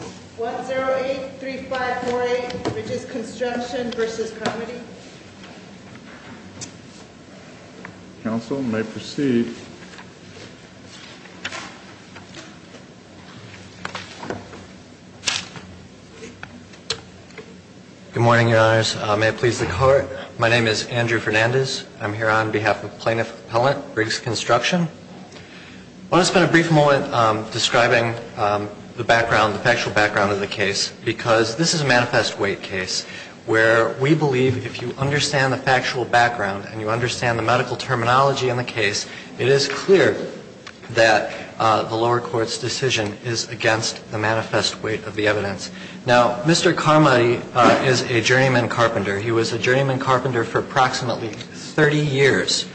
1083548, Riggs Construction v. Comm'nity. Council may proceed. Good morning, Your Honors. May it please the Court. My name is Andrew Fernandez. I'm here on behalf of Plaintiff Appellant, Riggs Construction. I want to spend a brief moment describing the background, the factual background of the case because this is a manifest weight case where we believe if you understand the factual background and you understand the medical terminology in the case, it is clear that the lower court's decision is against the manifest weight of the evidence. Now, Mr. Carmody is a journeyman carpenter. He was a journeyman carpenter for approximately 30 years.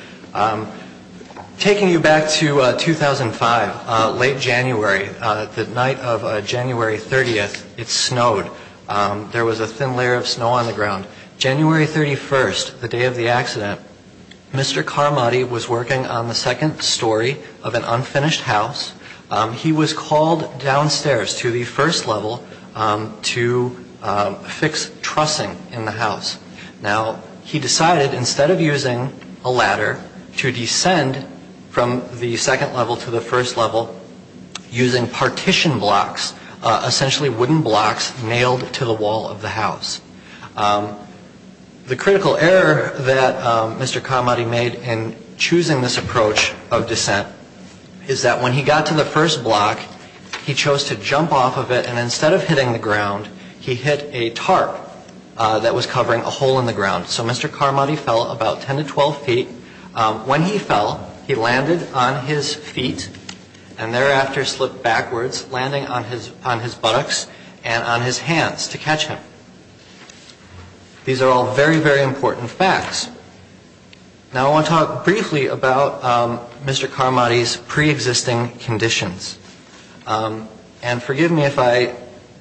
Taking you back to 2005, late January, the night of January 30th, it snowed. There was a thin layer of snow on the ground. January 31st, the day of the accident, Mr. Carmody was working on the second story of an unfinished house. He was called downstairs to the first level to fix trussing in the house. Now, he decided instead of using a ladder to descend from the second level to the first level using partition blocks, essentially wooden blocks nailed to the wall of the house. The critical error that Mr. Carmody made in choosing this approach of descent is that when he got to the first block, he chose to jump off of it and instead of hitting the ground, he hit a tarp that was covering a hole in the ground. So Mr. Carmody fell about 10 to 12 feet. When he fell, he landed on his feet and thereafter slipped backwards landing on his on his buttocks and on his hands to catch him. These are all very, very important facts. Now, I want to talk briefly about Mr. Carmody's pre-existing conditions. And forgive me if I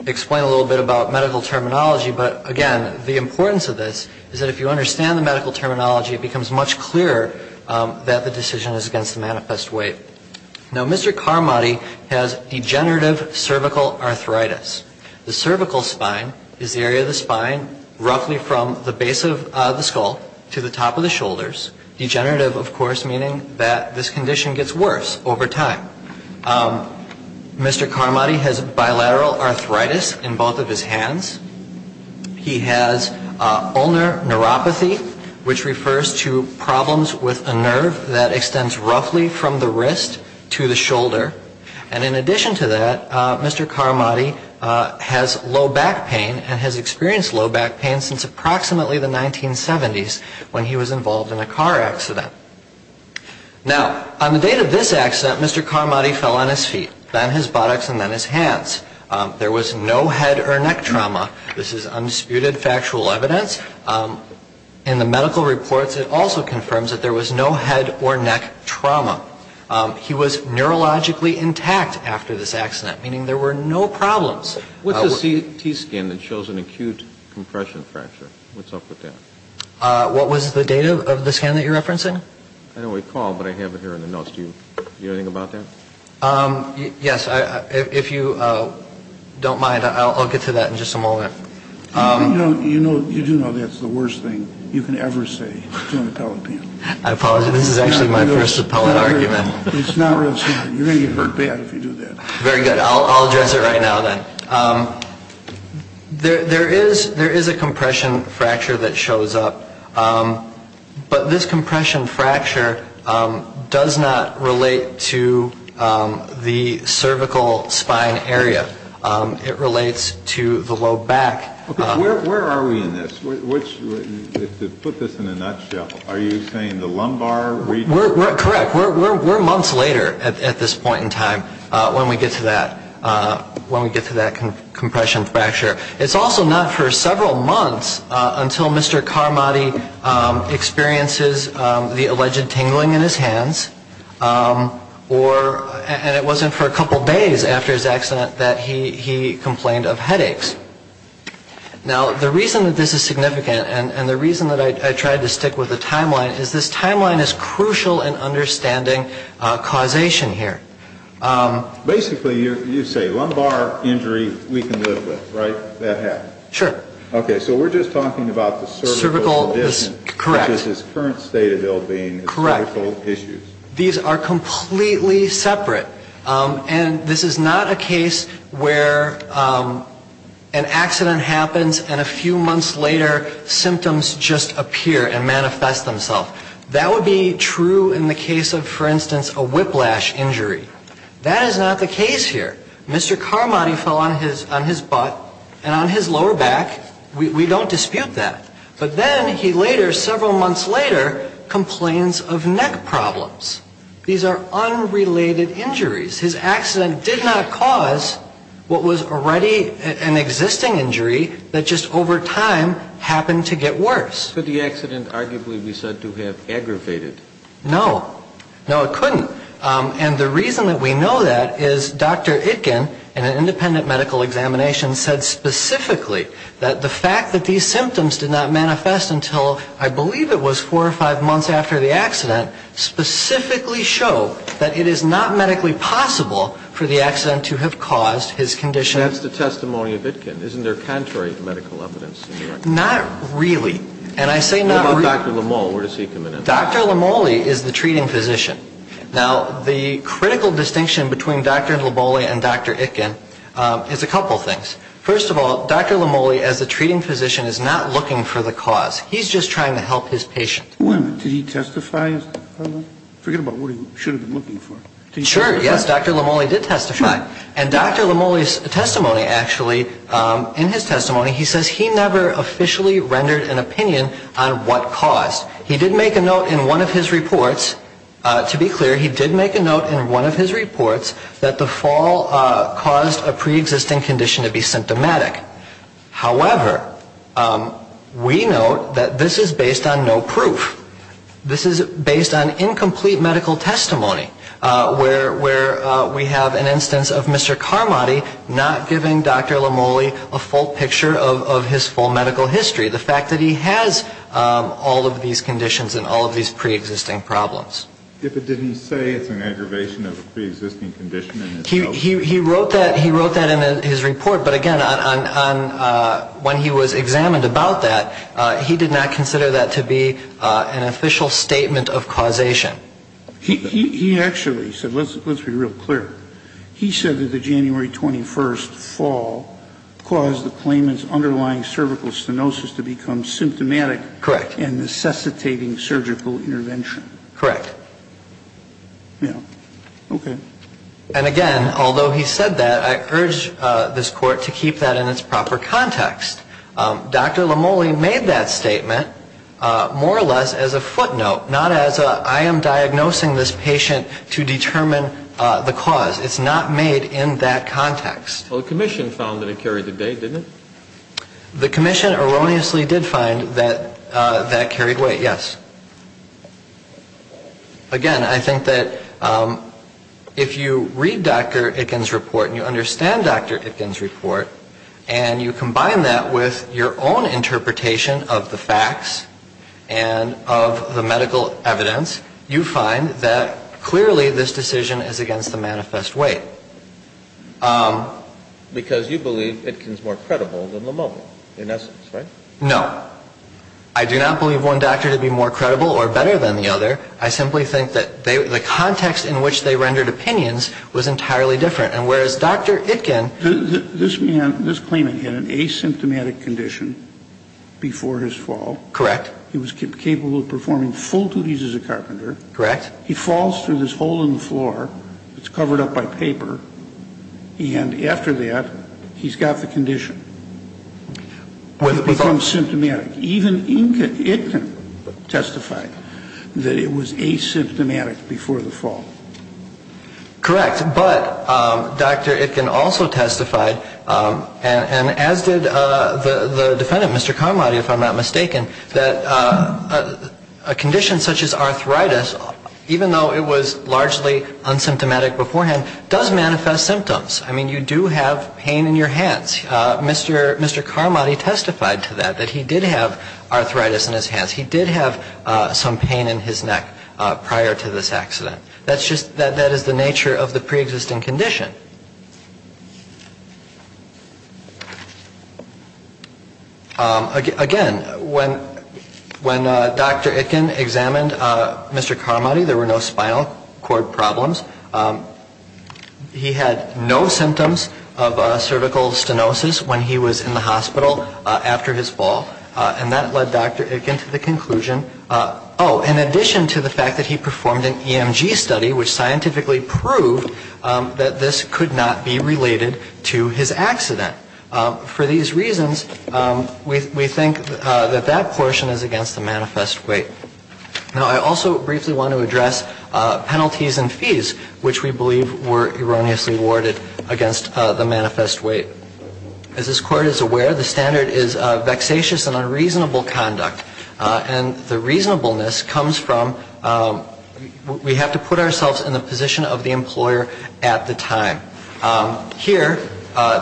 explain a little bit about medical terminology, but again, the importance of this is that if you understand the medical terminology, it becomes much clearer that the decision is against the manifest weight. Now, Mr. Carmody has degenerative cervical arthritis. The cervical spine is the area of the spine roughly from the base of the skull to the top of the shoulders. Degenerative, of course, meaning that this condition gets worse over time. Mr. Carmody has bilateral arthritis in both of his hands. He has ulnar neuropathy, which refers to problems with a nerve that extends roughly from the wrist to the shoulder. And in addition to that, Mr. Carmody has low back pain and has experienced low back pain since approximately the 1970s when he was involved in a car accident. Now, on the date of this accident, Mr. Carmody fell on his feet, then his buttocks, and then his hands. There was no head or neck trauma. This is undisputed factual evidence. In the medical reports, it also confirms that there was no head or neck trauma. He was neurologically intact after this accident, meaning there were no problems. What's the CT scan that shows an acute compression fracture? What's up with that? What was the data of the scan that you're referencing? I don't recall, but I have it here in the notes. Do you know anything about that? Yes, if you don't mind, I'll get to that in just a moment. You do know that's the worst thing you can ever say to an appellate panel. I apologize. This is actually my first appellate argument. It's not real serious. You're going to get hurt bad if you do that. Very good. I'll address it right now then. There is a compression fracture that shows up, but this compression fracture does not relate to the cervical spine area. It relates to the low back. Where are we in this? To put this in a nutshell, are you saying the lumbar region? Correct. We're months later at this point in time when we get to that compression fracture. It's also not for several months until Mr. Carmody experiences the alleged tingling in his hands, and it wasn't for a couple days after his accident that he complained of headaches. Now, the reason that this is significant and the reason that I tried to stick with the timeline is this timeline is crucial in understanding causation here. Basically, you say lumbar injury we can live with, right? That happened. Sure. Okay. state of ill-being. Correct. These are completely separate. And this is not a case where an accident happens and a few months later symptoms just appear and manifest themselves. That would be true in the case of, for instance, a whiplash injury. That is not the case here. Mr. Carmody fell on his on his butt and on his lower back. We don't dispute that. But then he later several months later complains of neck problems. These are unrelated injuries. His accident did not cause what was already an existing injury that just over time happened to get worse. Could the accident arguably be said to have aggravated? No, no, it couldn't. And the reason that we know that is Dr. Itkin and an independent medical examination said specifically that the fact that these symptoms did not manifest until I believe it was four or five months after the accident specifically show that it is not medically possible for the accident to have caused his condition. That's the testimony of it can isn't there contrary to medical Not really. And I say not really. Dr. Lamont. Where does he come in? Dr. Lamont Lee is the treating physician. Now the critical distinction between Dr. Lobolia and Dr. Itkin is a couple things. First of all, Dr. Lamont Lee as a treating physician is not looking for the cause. He's just trying to help his patient woman. Did he testify forget about what he should have been looking for? Sure. Yes. Dr. Lamont Lee did testify and Dr. Lamont Lee's testimony actually in his testimony. He says he never officially rendered an opinion on what caused he did make a note in one of his reports to be clear. He did make a note in one of his reports that the fall caused a pre-existing condition to be symptomatic. However, we know that this is based on no proof. This is based on incomplete medical testimony where we have an instance of Mr. Carmody not giving Dr. Lamont Lee a full picture of his full medical history. The fact that he has all of these conditions and all of these pre-existing problems. If it didn't say it's an aggravation of a pre-existing condition. He wrote that he wrote that in his report. But again on when he was examined about that he did not consider that to be an official statement of causation. He actually said let's be real clear. He said that the January 21st fall caused the claimants underlying cervical stenosis to become symptomatic correct and necessitating surgical intervention. Correct. Yeah. Okay. And again, although he said that I urge this court to keep that in its proper context. Dr. Lamont Lee made that statement more or less as a footnote not as I am diagnosing this patient to determine the cause. It's not made in that context. Well, the Commission found that it carried the day didn't it? The Commission erroneously did find that that carried weight. Yes. Again, I think that if you read Dr. Itkin's report and you understand Dr. Itkin's report and you combine that with your own interpretation of the facts and of the medical evidence you find that clearly this decision is against the manifest way. Because you believe Itkin's more credible than Lamont Lee in essence, right? No, I do not believe one doctor to be more credible. Or better than the other. I simply think that they were the context in which they rendered opinions was entirely different. And whereas Dr. Itkin, this man, this claimant had an asymptomatic condition before his fall. Correct. He was capable of performing full duties as a carpenter. Correct. He falls through this hole in the floor. It's covered up by paper. And after that, he's got the condition. When it becomes symptomatic, even Itkin testified that it was asymptomatic before the fall. Correct. But Dr. Itkin also testified and as did the defendant, Mr. Carmody, if I'm not mistaken, that a condition such as arthritis, even though it was largely unsymptomatic beforehand, does manifest symptoms. I mean, you do have pain in your hands. Mr. Mr. Carmody testified to that, that he did have arthritis in his hands. He did have some pain in his neck prior to this accident. That's just that that is the nature of the pre-existing condition. Again, when when Dr. Itkin examined Mr. Carmody, there were no spinal cord problems. He had no symptoms of cervical stenosis when he was in the hospital after his fall. And that led Dr. Itkin to the conclusion, oh, in addition to the fact that he performed an EMG study, which scientifically proved that this could not be related to his accident. For these reasons, we think that that portion is against the manifest weight. Now, I also briefly want to address penalties and fees for which we believe were erroneously awarded against the manifest weight. As this Court is aware, the standard is vexatious and unreasonable conduct, and the reasonableness comes from we have to put ourselves in the position of the employer at the time. Here,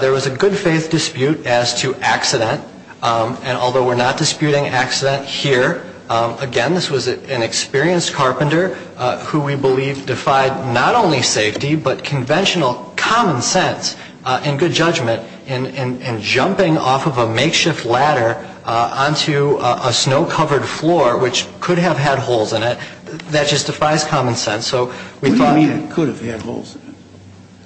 there was a good-faith dispute as to accident, and although we're not disputing accident here, again, this was an experienced carpenter who we believe defied not only safety, but conventional common sense and good judgment in jumping off of a makeshift ladder onto a snow-covered floor, which could have had holes in it. That just defies common sense. So we thought... What do you mean it could have had holes in it?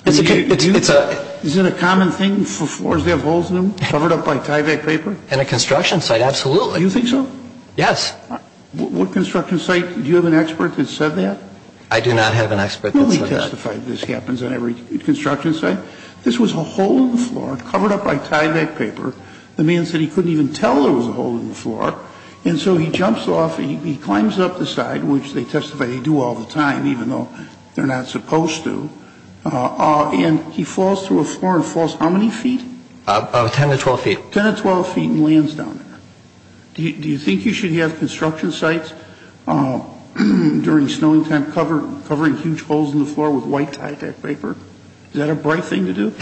It's a... Is it a common thing for floors to have holes in them, covered up by Tyvek paper? In a construction site, absolutely. You think so? Yes. What construction site? Do you have an expert that said that? I do not have an expert that said that. Nobody testified this happens on every construction site. This was a hole in the floor, covered up by Tyvek paper. The man said he couldn't even tell there was a hole in the floor, and so he jumps off and he climbs up the side, which they testify they do all the time, even though they're not supposed to, and he falls through a floor and falls how many feet? About 10 to 12 feet. 10 to 12 feet and lands down there. Do you think you should have construction sites during snowing time covering huge holes in the floor with white Tyvek paper? Is that a bright thing to do?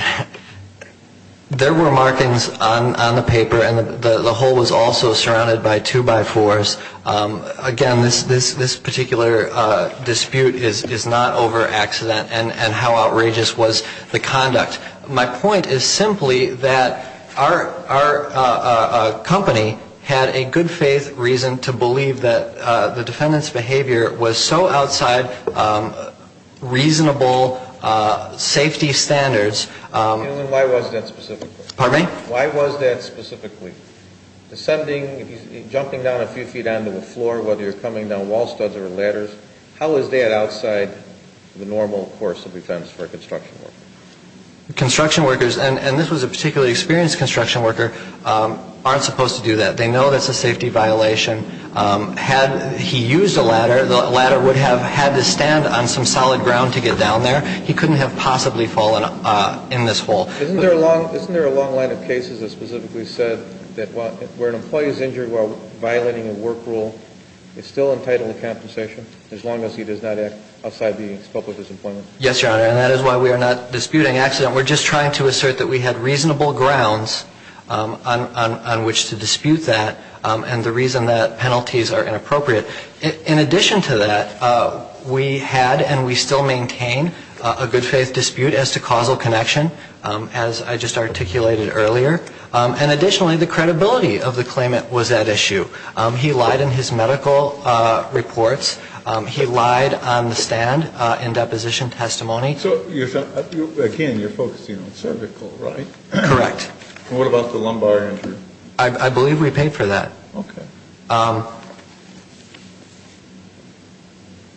There were markings on the paper and the hole was also surrounded by two-by-fours. Again, this particular dispute is not over accident and how outrageous was the conduct. My point is simply that our company had a good faith reason to believe that the defendant's behavior was so outside reasonable safety standards. Why was that specifically? Pardon me? Why was that specifically? Descending, jumping down a few feet onto the floor, whether you're coming down wall studs or ladders, how is that outside the normal course of defense for a construction worker? Construction workers, and this was a particularly experienced construction worker, aren't supposed to do that. They know that's a safety violation. Had he used a ladder, the ladder would have had to stand on some solid ground to get down there. He couldn't have possibly fallen in this hole. Isn't there a long line of cases that specifically said that where an employee is injured while violating a work rule, it's still entitled to compensation as long as he does not act outside the scope of his employment? Yes, Your Honor, and that is why we are not disputing accident. We're just trying to assert that we had reasonable grounds on which to dispute that and the reason that penalties are inappropriate. In addition to that, we had and we still maintain a good faith dispute as to causal connection, as I just articulated earlier. And additionally, the credibility of the claimant was at issue. He lied in his medical reports. He lied on the stand in deposition testimony. So again, you're focusing on cervical, right? Correct. What about the lumbar injury? I believe we paid for that. Okay.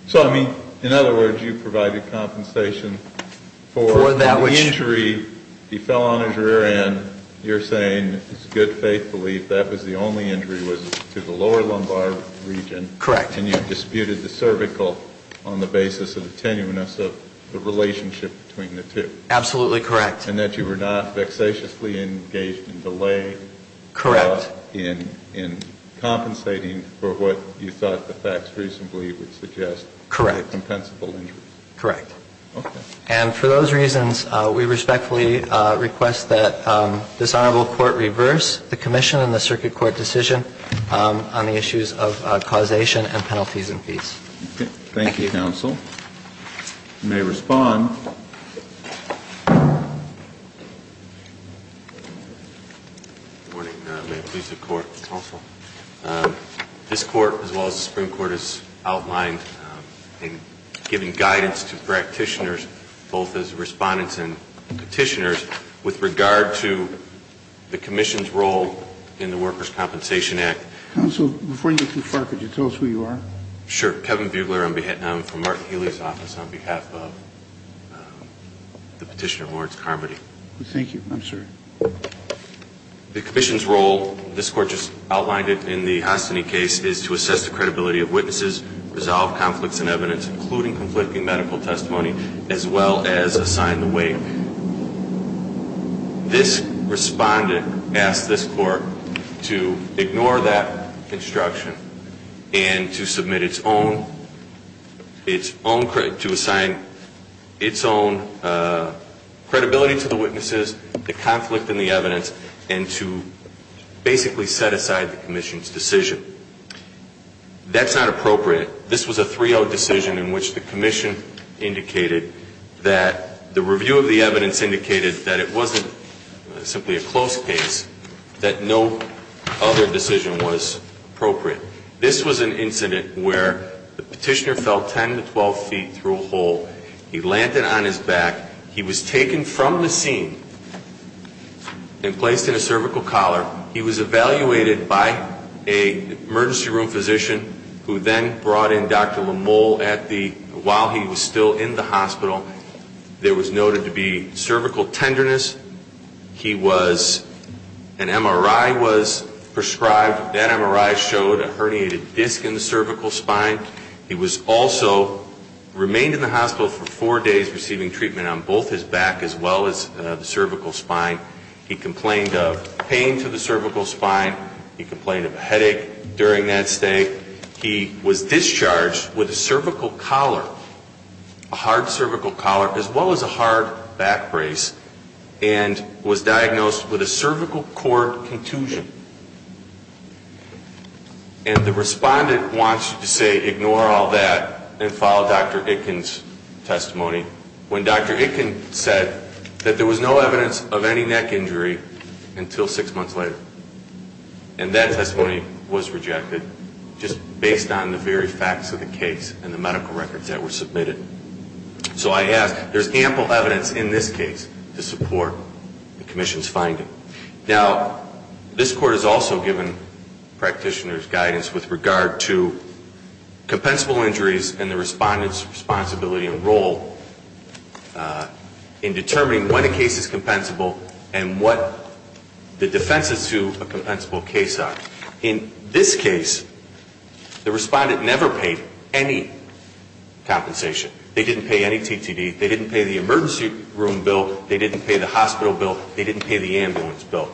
So, I mean, in other words, you provided compensation for that injury. He fell on his rear end. You're saying it's good faith belief that was the only injury was to the lower lumbar region. Correct. And you disputed the cervical on the basis of the tenuineness of the relationship between the two. Absolutely correct. And that you were not vexatiously engaged in delay. Correct. In compensating for what you thought the facts reasonably would suggest. Correct. Compensable injuries. Correct. And for those reasons, we respectfully request that this Honorable Court reverse the commission and the circuit court decision on the issues of causation and penalties and fees. Thank you, counsel. You may respond. Good morning, may it please the court. Counsel. This court as well as the Supreme Court is outlined in giving guidance to practitioners both as respondents and petitioners with regard to the commission's role in the Workers' Compensation Act. Counsel, before you get too far, could you tell us who you are? Sure. Kevin Bugler from Martin Healy's office on behalf of the petitioner Lawrence Carmody. Thank you. I'm sorry. The commission's role, this court just outlined it in the Hostiny case, is to assess the credibility of witnesses, resolve conflicts and evidence, including conflicting medical testimony as well as assign the weight. This respondent asked this court to ignore that construction and to submit its own, its own, to assign its own credibility to the witnesses, the conflict and the evidence and to basically set aside the commission's decision. That's not appropriate. This was a 3-0 decision in which the commission indicated that the review of the evidence indicated that it wasn't simply a close case, that no other decision was appropriate. This was an incident where the petitioner fell 10 to 12 feet through a hole. He lanted on his back. He was taken from the scene and placed in a cervical collar. He was evaluated by an emergency room physician who then brought in Dr. Lamole at the, while he was still in the hospital. There was noted to be cervical tenderness. He was, an MRI was prescribed. That MRI showed a herniated disc in the cervical spine. He was also, remained in the hospital for four days receiving treatment on both his back as well as the cervical spine. He complained of pain to the cervical spine. He complained of headache during that stay. He was discharged with a cervical collar, a hard cervical collar as well as a hard back brace and was diagnosed with a cervical cord contusion. And the respondent wants you to say ignore all that and follow Dr. Itkin's testimony when Dr. Itkin said that there was no evidence of any neck injury until six months later. And that testimony was rejected just based on the very facts of the case and the medical records that were submitted. So I ask, there's ample evidence in this case to support the commission's finding. Now, this court has also given practitioners guidance with regard to compensable injuries and the respondent's responsibility and role in determining when a case is compensable and what the defenses to a compensable case are. In this case, the respondent never paid any compensation. They didn't pay any TTD. They didn't pay the emergency room bill. They didn't pay the hospital bill. They didn't pay the ambulance bill.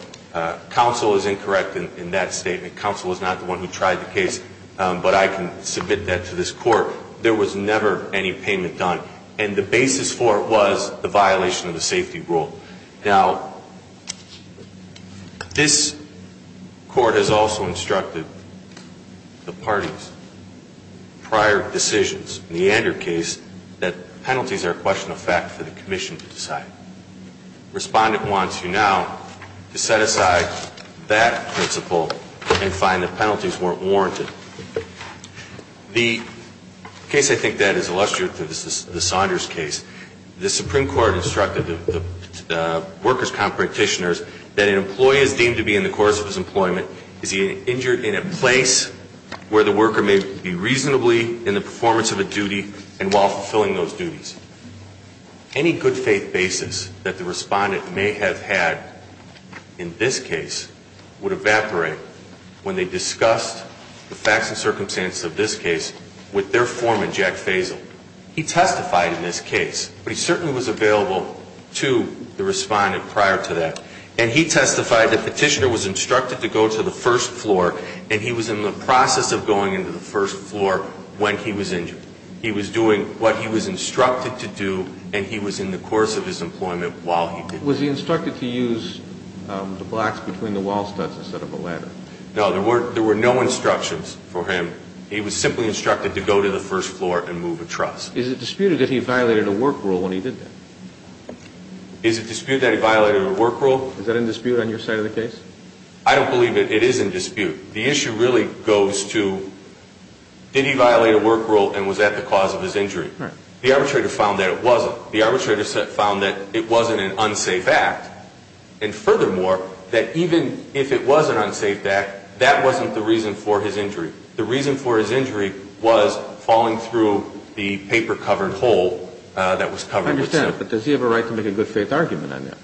Counsel is incorrect in that statement. Counsel is not the one who tried the case, but I can submit that to this court. There was never any payment done and the basis for it was the violation of the safety rule. Now, this court has also instructed the parties prior decisions in the Ander case that penalties are a question of fact for the commission to decide. Respondent wants you now to set aside that principle and find the penalties weren't warranted. The case I think that is illustrative is the Saunders case. The Supreme Court instructed the workers' comp practitioners that an employee is deemed to be in the course of his employment is he injured in a place where the worker may be reasonably in the performance of a duty and while fulfilling those duties. Any good faith basis that the respondent may have had in this case would evaporate when they discussed the facts and circumstances of this case with their foreman Jack Faisal. He testified in this case, but he certainly was available to the respondent prior to that and he testified that the petitioner was instructed to go to the first floor and he was in the process of going into the first floor when he was injured. He was doing what he was instructed to do and he was in the course of his employment while he did. Was he instructed to use the blocks between the wall studs instead of a ladder? No, there were no instructions for him. He was simply instructed to go to the first floor and move a truss. Is it disputed that he violated a work rule when he did that? Is it disputed that he violated a work rule? Is that in dispute on your side of the case? I don't believe it. It is in dispute. The issue really goes to did he violate a work rule and was that the cause of his injury? The arbitrator found that it wasn't. The arbitrator found that it wasn't an unsafe act and furthermore that even if it was an unsafe act, that wasn't the reason for his injury. The reason for his injury was falling through the paper-covered hole that was covered. I understand, but does he have a right to make a good faith argument on that?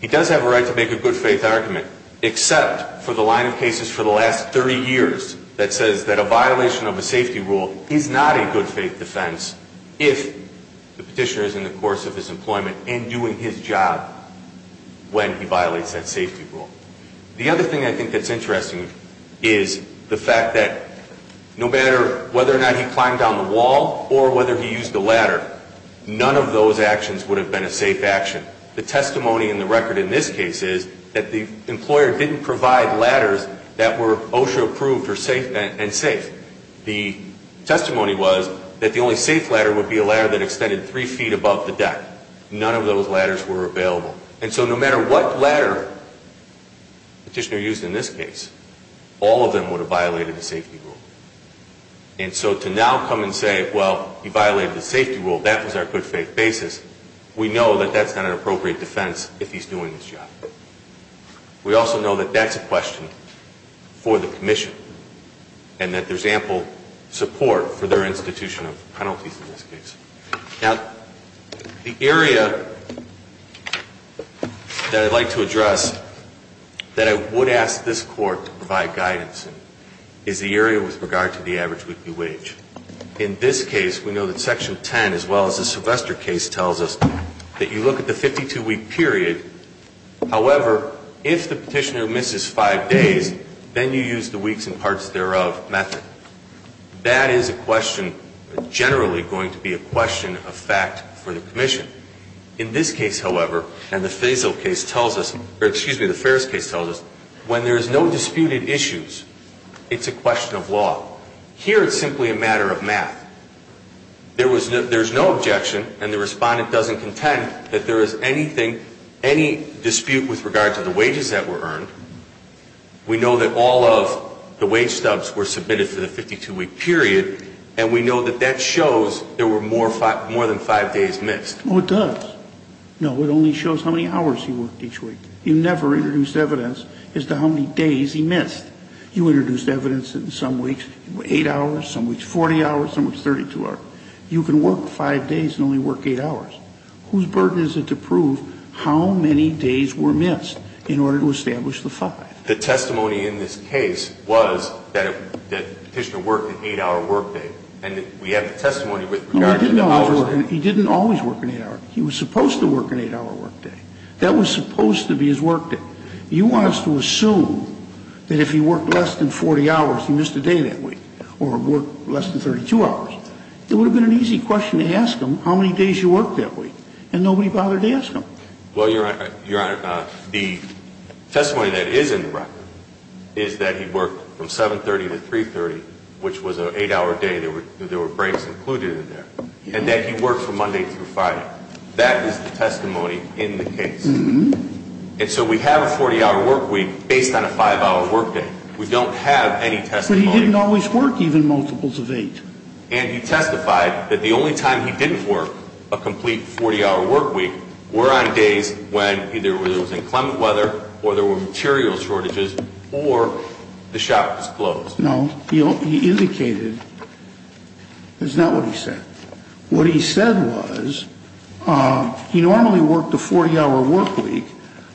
He does have a right to make a good faith argument except for the line of cases for the last 30 years that says that a violation of a safety rule is not a good faith defense if the petitioner is in the course of his employment and doing his job when he violates that safety rule. The other thing I think that's interesting is the fact that no matter whether or not he climbed down the wall or whether he used the ladder, none of those actions would have been a safe action. The testimony in the record in this case is that the employer didn't provide ladders that were OSHA approved and safe. The testimony was that the only safe ladder would be a ladder that extended three feet above the deck. None of those ladders were available. And so no matter what ladder the petitioner used in this case, all of them would have violated the safety rule. And so to now come and say, well, he violated the safety rule, that was our good faith basis. We know that that's not an appropriate defense if he's doing this job. We also know that that's a question for the commission and that there's ample support for their institution of penalties in this case. Now, the area that I'd like to address that I would ask this court to provide guidance in is the area with regard to the average weekly wage. In this case, we know that Section 10, as well as the Sylvester case, tells us that you look at the 52-week period, however, if the petitioner misses five days, then you use the weeks and parts thereof method. That is a question, generally going to be a question of fact for the commission. In this case, however, and the Faisal case tells us, or excuse me, the Ferris case tells us, when there is no disputed issues, it's a question of law. Here, it's simply a matter of math. There was no, there's no objection and the respondent doesn't contend that there is anything, any dispute with regard to the wages that were earned. We know that all of the wage stubs were submitted for the 52-week period and we know that that shows there were more than five days missed. Well, it does. No, it only shows how many hours he worked each week. You never introduced evidence as to how many days he missed. You introduced evidence in some weeks, eight hours, some weeks 40 hours, some weeks 32 hours. You can work five days and only work eight hours. Whose burden is it to prove how many days were missed in order to establish the five? The testimony in this case was that the petitioner worked an eight hour workday. And we have the testimony with regard to the hours. He didn't always work an eight hour. He was supposed to work an eight hour workday. That was supposed to be his workday. You want us to assume that if he worked less than 40 hours, he missed a day that week or worked less than 32 hours. It would have been an easy question to ask him, how many days you worked that week? And nobody bothered to ask him. Well, Your Honor, the testimony that is in the record is that he worked from 730 to 330, which was an eight hour day. There were breaks included in there. And that he worked from Monday through Friday. That is the testimony in the case. And so we have a 40 hour workweek based on a five hour workday. We don't have any testimony. He didn't always work even multiples of eight. And he testified that the only time he didn't work a complete 40 hour workweek were on days when either it was inclement weather or there were material shortages or the shop was closed. No, he indicated, that's not what he said. What he said was, he normally worked a 40 hour workweek.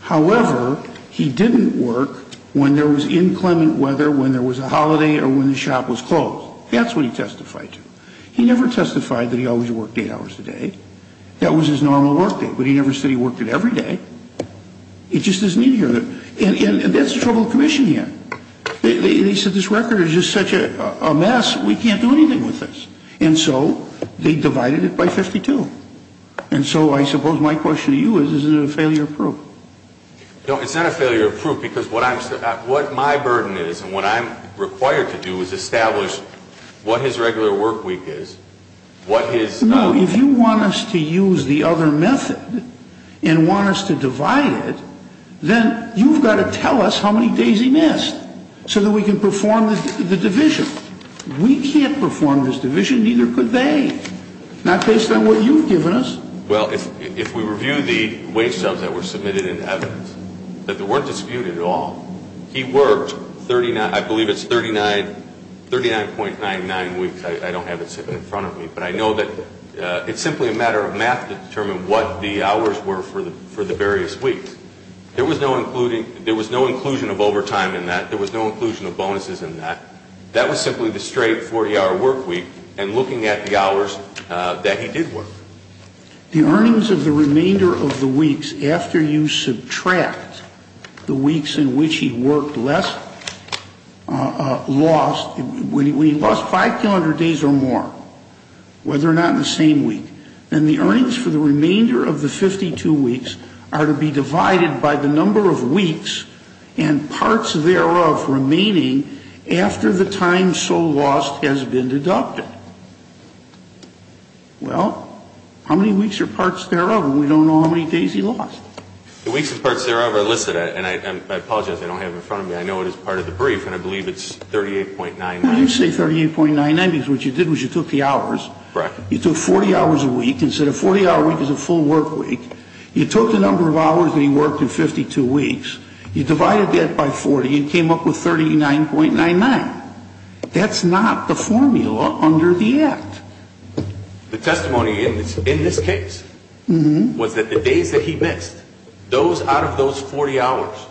However, he didn't work when there was inclement weather, when there was a holiday or when the shop was closed. That's what he testified to. He never testified that he always worked eight hours a day. That was his normal workday. But he never said he worked it every day. It just doesn't need to be heard. And that's the trouble with commissioning him. They said this record is just such a mess. We can't do anything with this. And so they divided it by 52. And so I suppose my question to you is, is it a failure of proof? No, it's not a failure of proof because what my burden is and what I'm required to do is establish what his regular workweek is. What his... No, if you want us to use the other method and want us to divide it, then you've got to tell us how many days he missed so that we can perform the division. We can't perform this division. Neither could they. Not based on what you've given us. Well, if we review the wage jobs that were submitted in evidence, that there weren't disputed at all, he worked 39, I believe it's 39, 39.99 weeks. I don't have it sitting in front of me, but I know that it's simply a matter of math to determine what the hours were for the various weeks. There was no including, there was no inclusion of overtime in that. There was no inclusion of bonuses in that. That was simply the straight 40-hour workweek and looking at the hours that he did work. The earnings of the remainder of the weeks after you subtract the weeks in which he worked less, lost, when he lost 500 days or more, whether or not in the same week, then the earnings for the remainder of the 52 weeks are to be divided by the number of weeks and parts thereof remaining after the time so lost has been deducted. Well, how many weeks are parts thereof? We don't know how many days he lost. The weeks and parts thereof are listed and I apologize. I don't have it in front of me. I know it is part of the brief and I believe it's 38.99. I didn't say 38.99 because what you did was you took the hours, you took 40 hours a week and said a 40-hour week is a full workweek. You took the number of hours that he worked in 52 weeks. You divided that by 40 and came up with 39.99. That's not the formula under the Act. The testimony in this case was that the days that he missed, those out of those 40 hours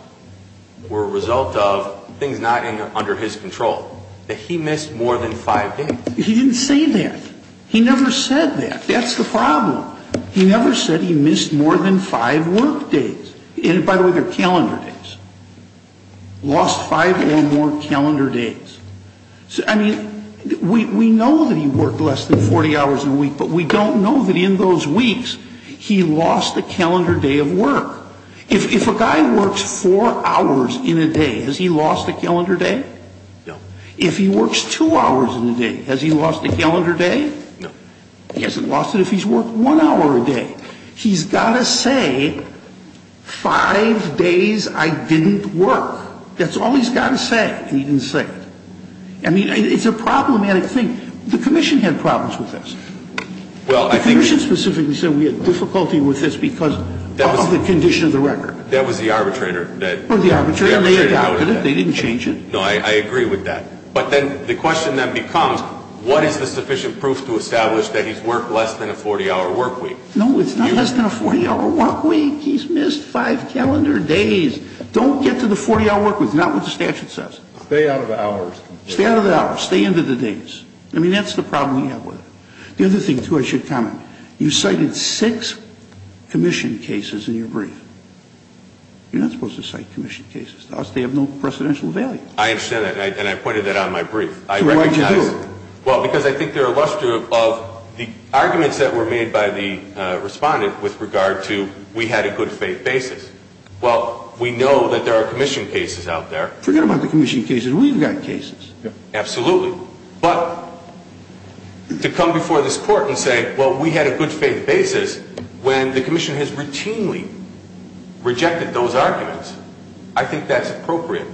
were a result of things not under his control, that he missed more than five days. He didn't say that. He never said that. That's the problem. He never said he missed more than five work days. And by the way, they're calendar days. Lost five or more calendar days. I mean, we know that he worked less than 40 hours in a week, but we don't know that in those weeks he lost a calendar day of work. If a guy works four hours in a day, has he lost a calendar day? No. If he works two hours in a day, has he lost a calendar day? No. He hasn't lost it if he's worked one hour a day. He's got to say five days I didn't work. That's all he's got to say and he didn't say it. I mean, it's a problematic thing. The commission had problems with this. Well, I think you should specifically say we had difficulty with this because of the condition of the record. That was the arbitrator that or the arbitrator. They didn't change it. No, I agree with that. But then the question that becomes what is the sufficient proof to establish that he's worked less than a 40-hour workweek? No, it's not less than a 40-hour workweek. He's missed five calendar days. Don't get to the 40-hour workweek. Not what the statute says. Stay out of the hours. Stay out of the hours. Stay into the days. I mean, that's the problem we have with it. The other thing, too, I should comment. You cited six commission cases in your brief. You're not supposed to cite commission cases. Those, they have no precedential value. I understand that and I pointed that on my brief. I recognize. Well, because I think they're a luster of the arguments that were made by the respondent with regard to we had a good faith basis. Well, we know that there are commission cases out there. Forget about the commission cases. We've got cases. Absolutely, but to come before this court and say, well, we had a good faith basis when the commission has routinely rejected those arguments. I think that's appropriate.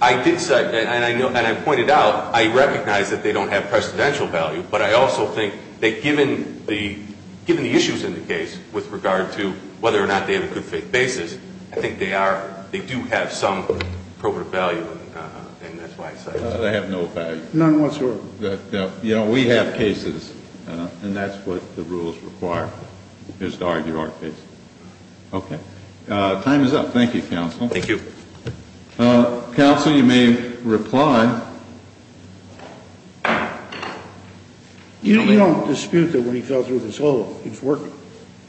I did say and I know and I pointed out I recognize that they don't have precedential value, but I also think that given the given the issues in the case with regard to whether or not they have a good faith basis. I think they are. They do have some appropriate value and that's why I said they have no value. None whatsoever. You know, we have cases and that's what the rules require is to argue our case. Okay, time is up. Thank you, counsel. Thank you. Counsel, you may reply. You don't dispute that when he fell through this hole, he's working.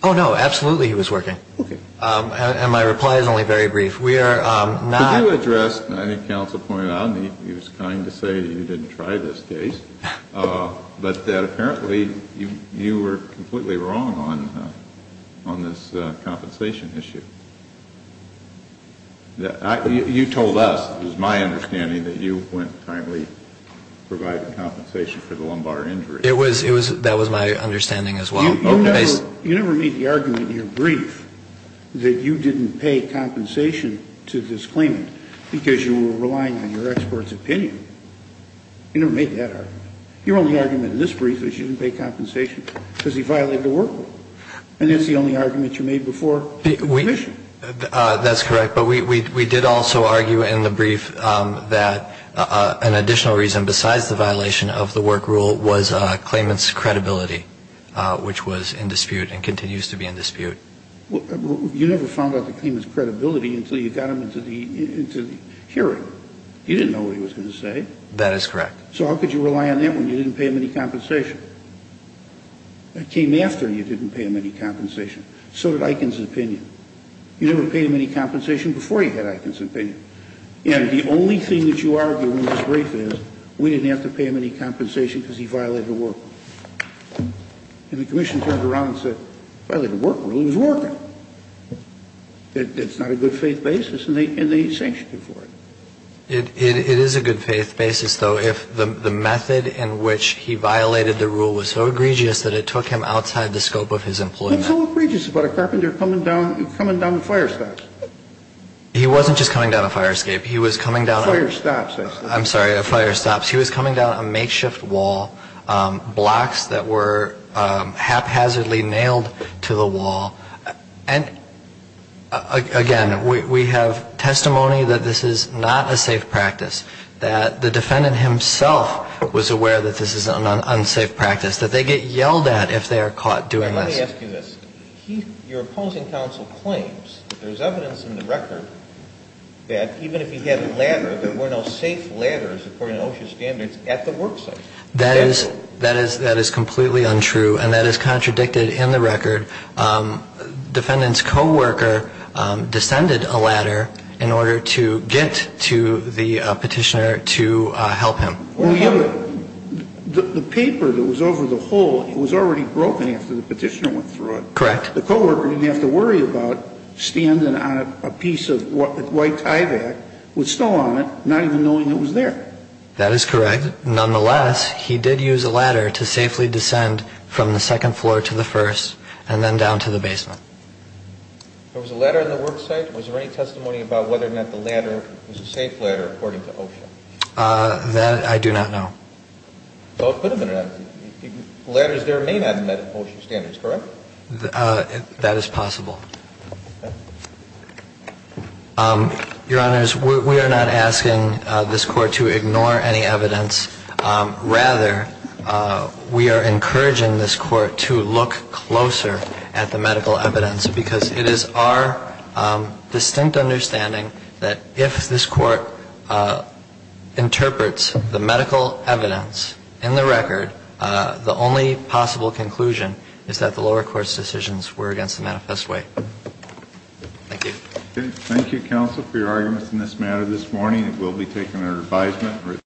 Oh, no, absolutely. He was working. Okay. And my reply is only very brief. We are not. You addressed, I think counsel pointed out, and he was kind to say you didn't try this case, but that apparently you were completely wrong on this compensation issue. You told us, it was my understanding, that you went tightly providing compensation for the lumbar injury. It was, that was my understanding as well. You never made the argument in your brief that you didn't pay compensation to this claimant because you were relying on your expert's opinion. You never made that argument. Your only argument in this brief is you didn't pay compensation because he violated the work rule. And that's the only argument you made before admission. That's correct. But we did also argue in the brief that an additional reason besides the violation of the work rule was a claimant's was in dispute and continues to be in dispute. You never found out the claimant's credibility until you got him into the hearing. You didn't know what he was going to say. That is correct. So how could you rely on that when you didn't pay him any compensation? That came after you didn't pay him any compensation. So did Eiken's opinion. You never paid him any compensation before he had Eiken's opinion. And the only thing that you argue in this brief is we didn't have to pay him any compensation because he violated the work rule. And the commission turned around and said, well, the work rule is working. It's not a good faith basis and they sanctioned him for it. It is a good faith basis, though, if the method in which he violated the rule was so egregious that it took him outside the scope of his employment. It's so egregious about a carpenter coming down, coming down the fire stops. He wasn't just coming down a fire escape. He was coming down fire stops. I'm sorry, a fire stops. He was coming down a makeshift wall, blocks that were haphazardly nailed to the wall. And again, we have testimony that this is not a safe practice that the defendant himself was aware that this is an unsafe practice that they get yelled at if they are caught doing this. Let me ask you this. Your opposing counsel claims there's evidence in the record that even if he had a ladder, there were no safe ladders, according to OSHA standards, at the work site. That is, that is, that is completely untrue and that is contradicted in the record. Defendant's co-worker descended a ladder in order to get to the petitioner to help him. The paper that was over the hole, it was already broken after the petitioner went through it. Correct. The co-worker didn't have to worry about standing on a piece of white ivy with snow on it, not even knowing it was there. That is correct. Nonetheless, he did use a ladder to safely descend from the second floor to the first and then down to the basement. There was a ladder in the work site. Was there any testimony about whether or not the ladder was a safe ladder according to OSHA? That I do not know. Ladders there may not have met OSHA standards, correct? That is possible. Your honors, we are not asking this court to ignore any evidence. Rather, we are encouraging this court to look closer at the medical evidence because it is our distinct understanding that if this court interprets the medical evidence in the record, the only possible conclusion is that the lower court's decisions were against the manifest way. Thank you. Thank you, counsel, for your arguments in this matter this morning. It will be taken under advisement.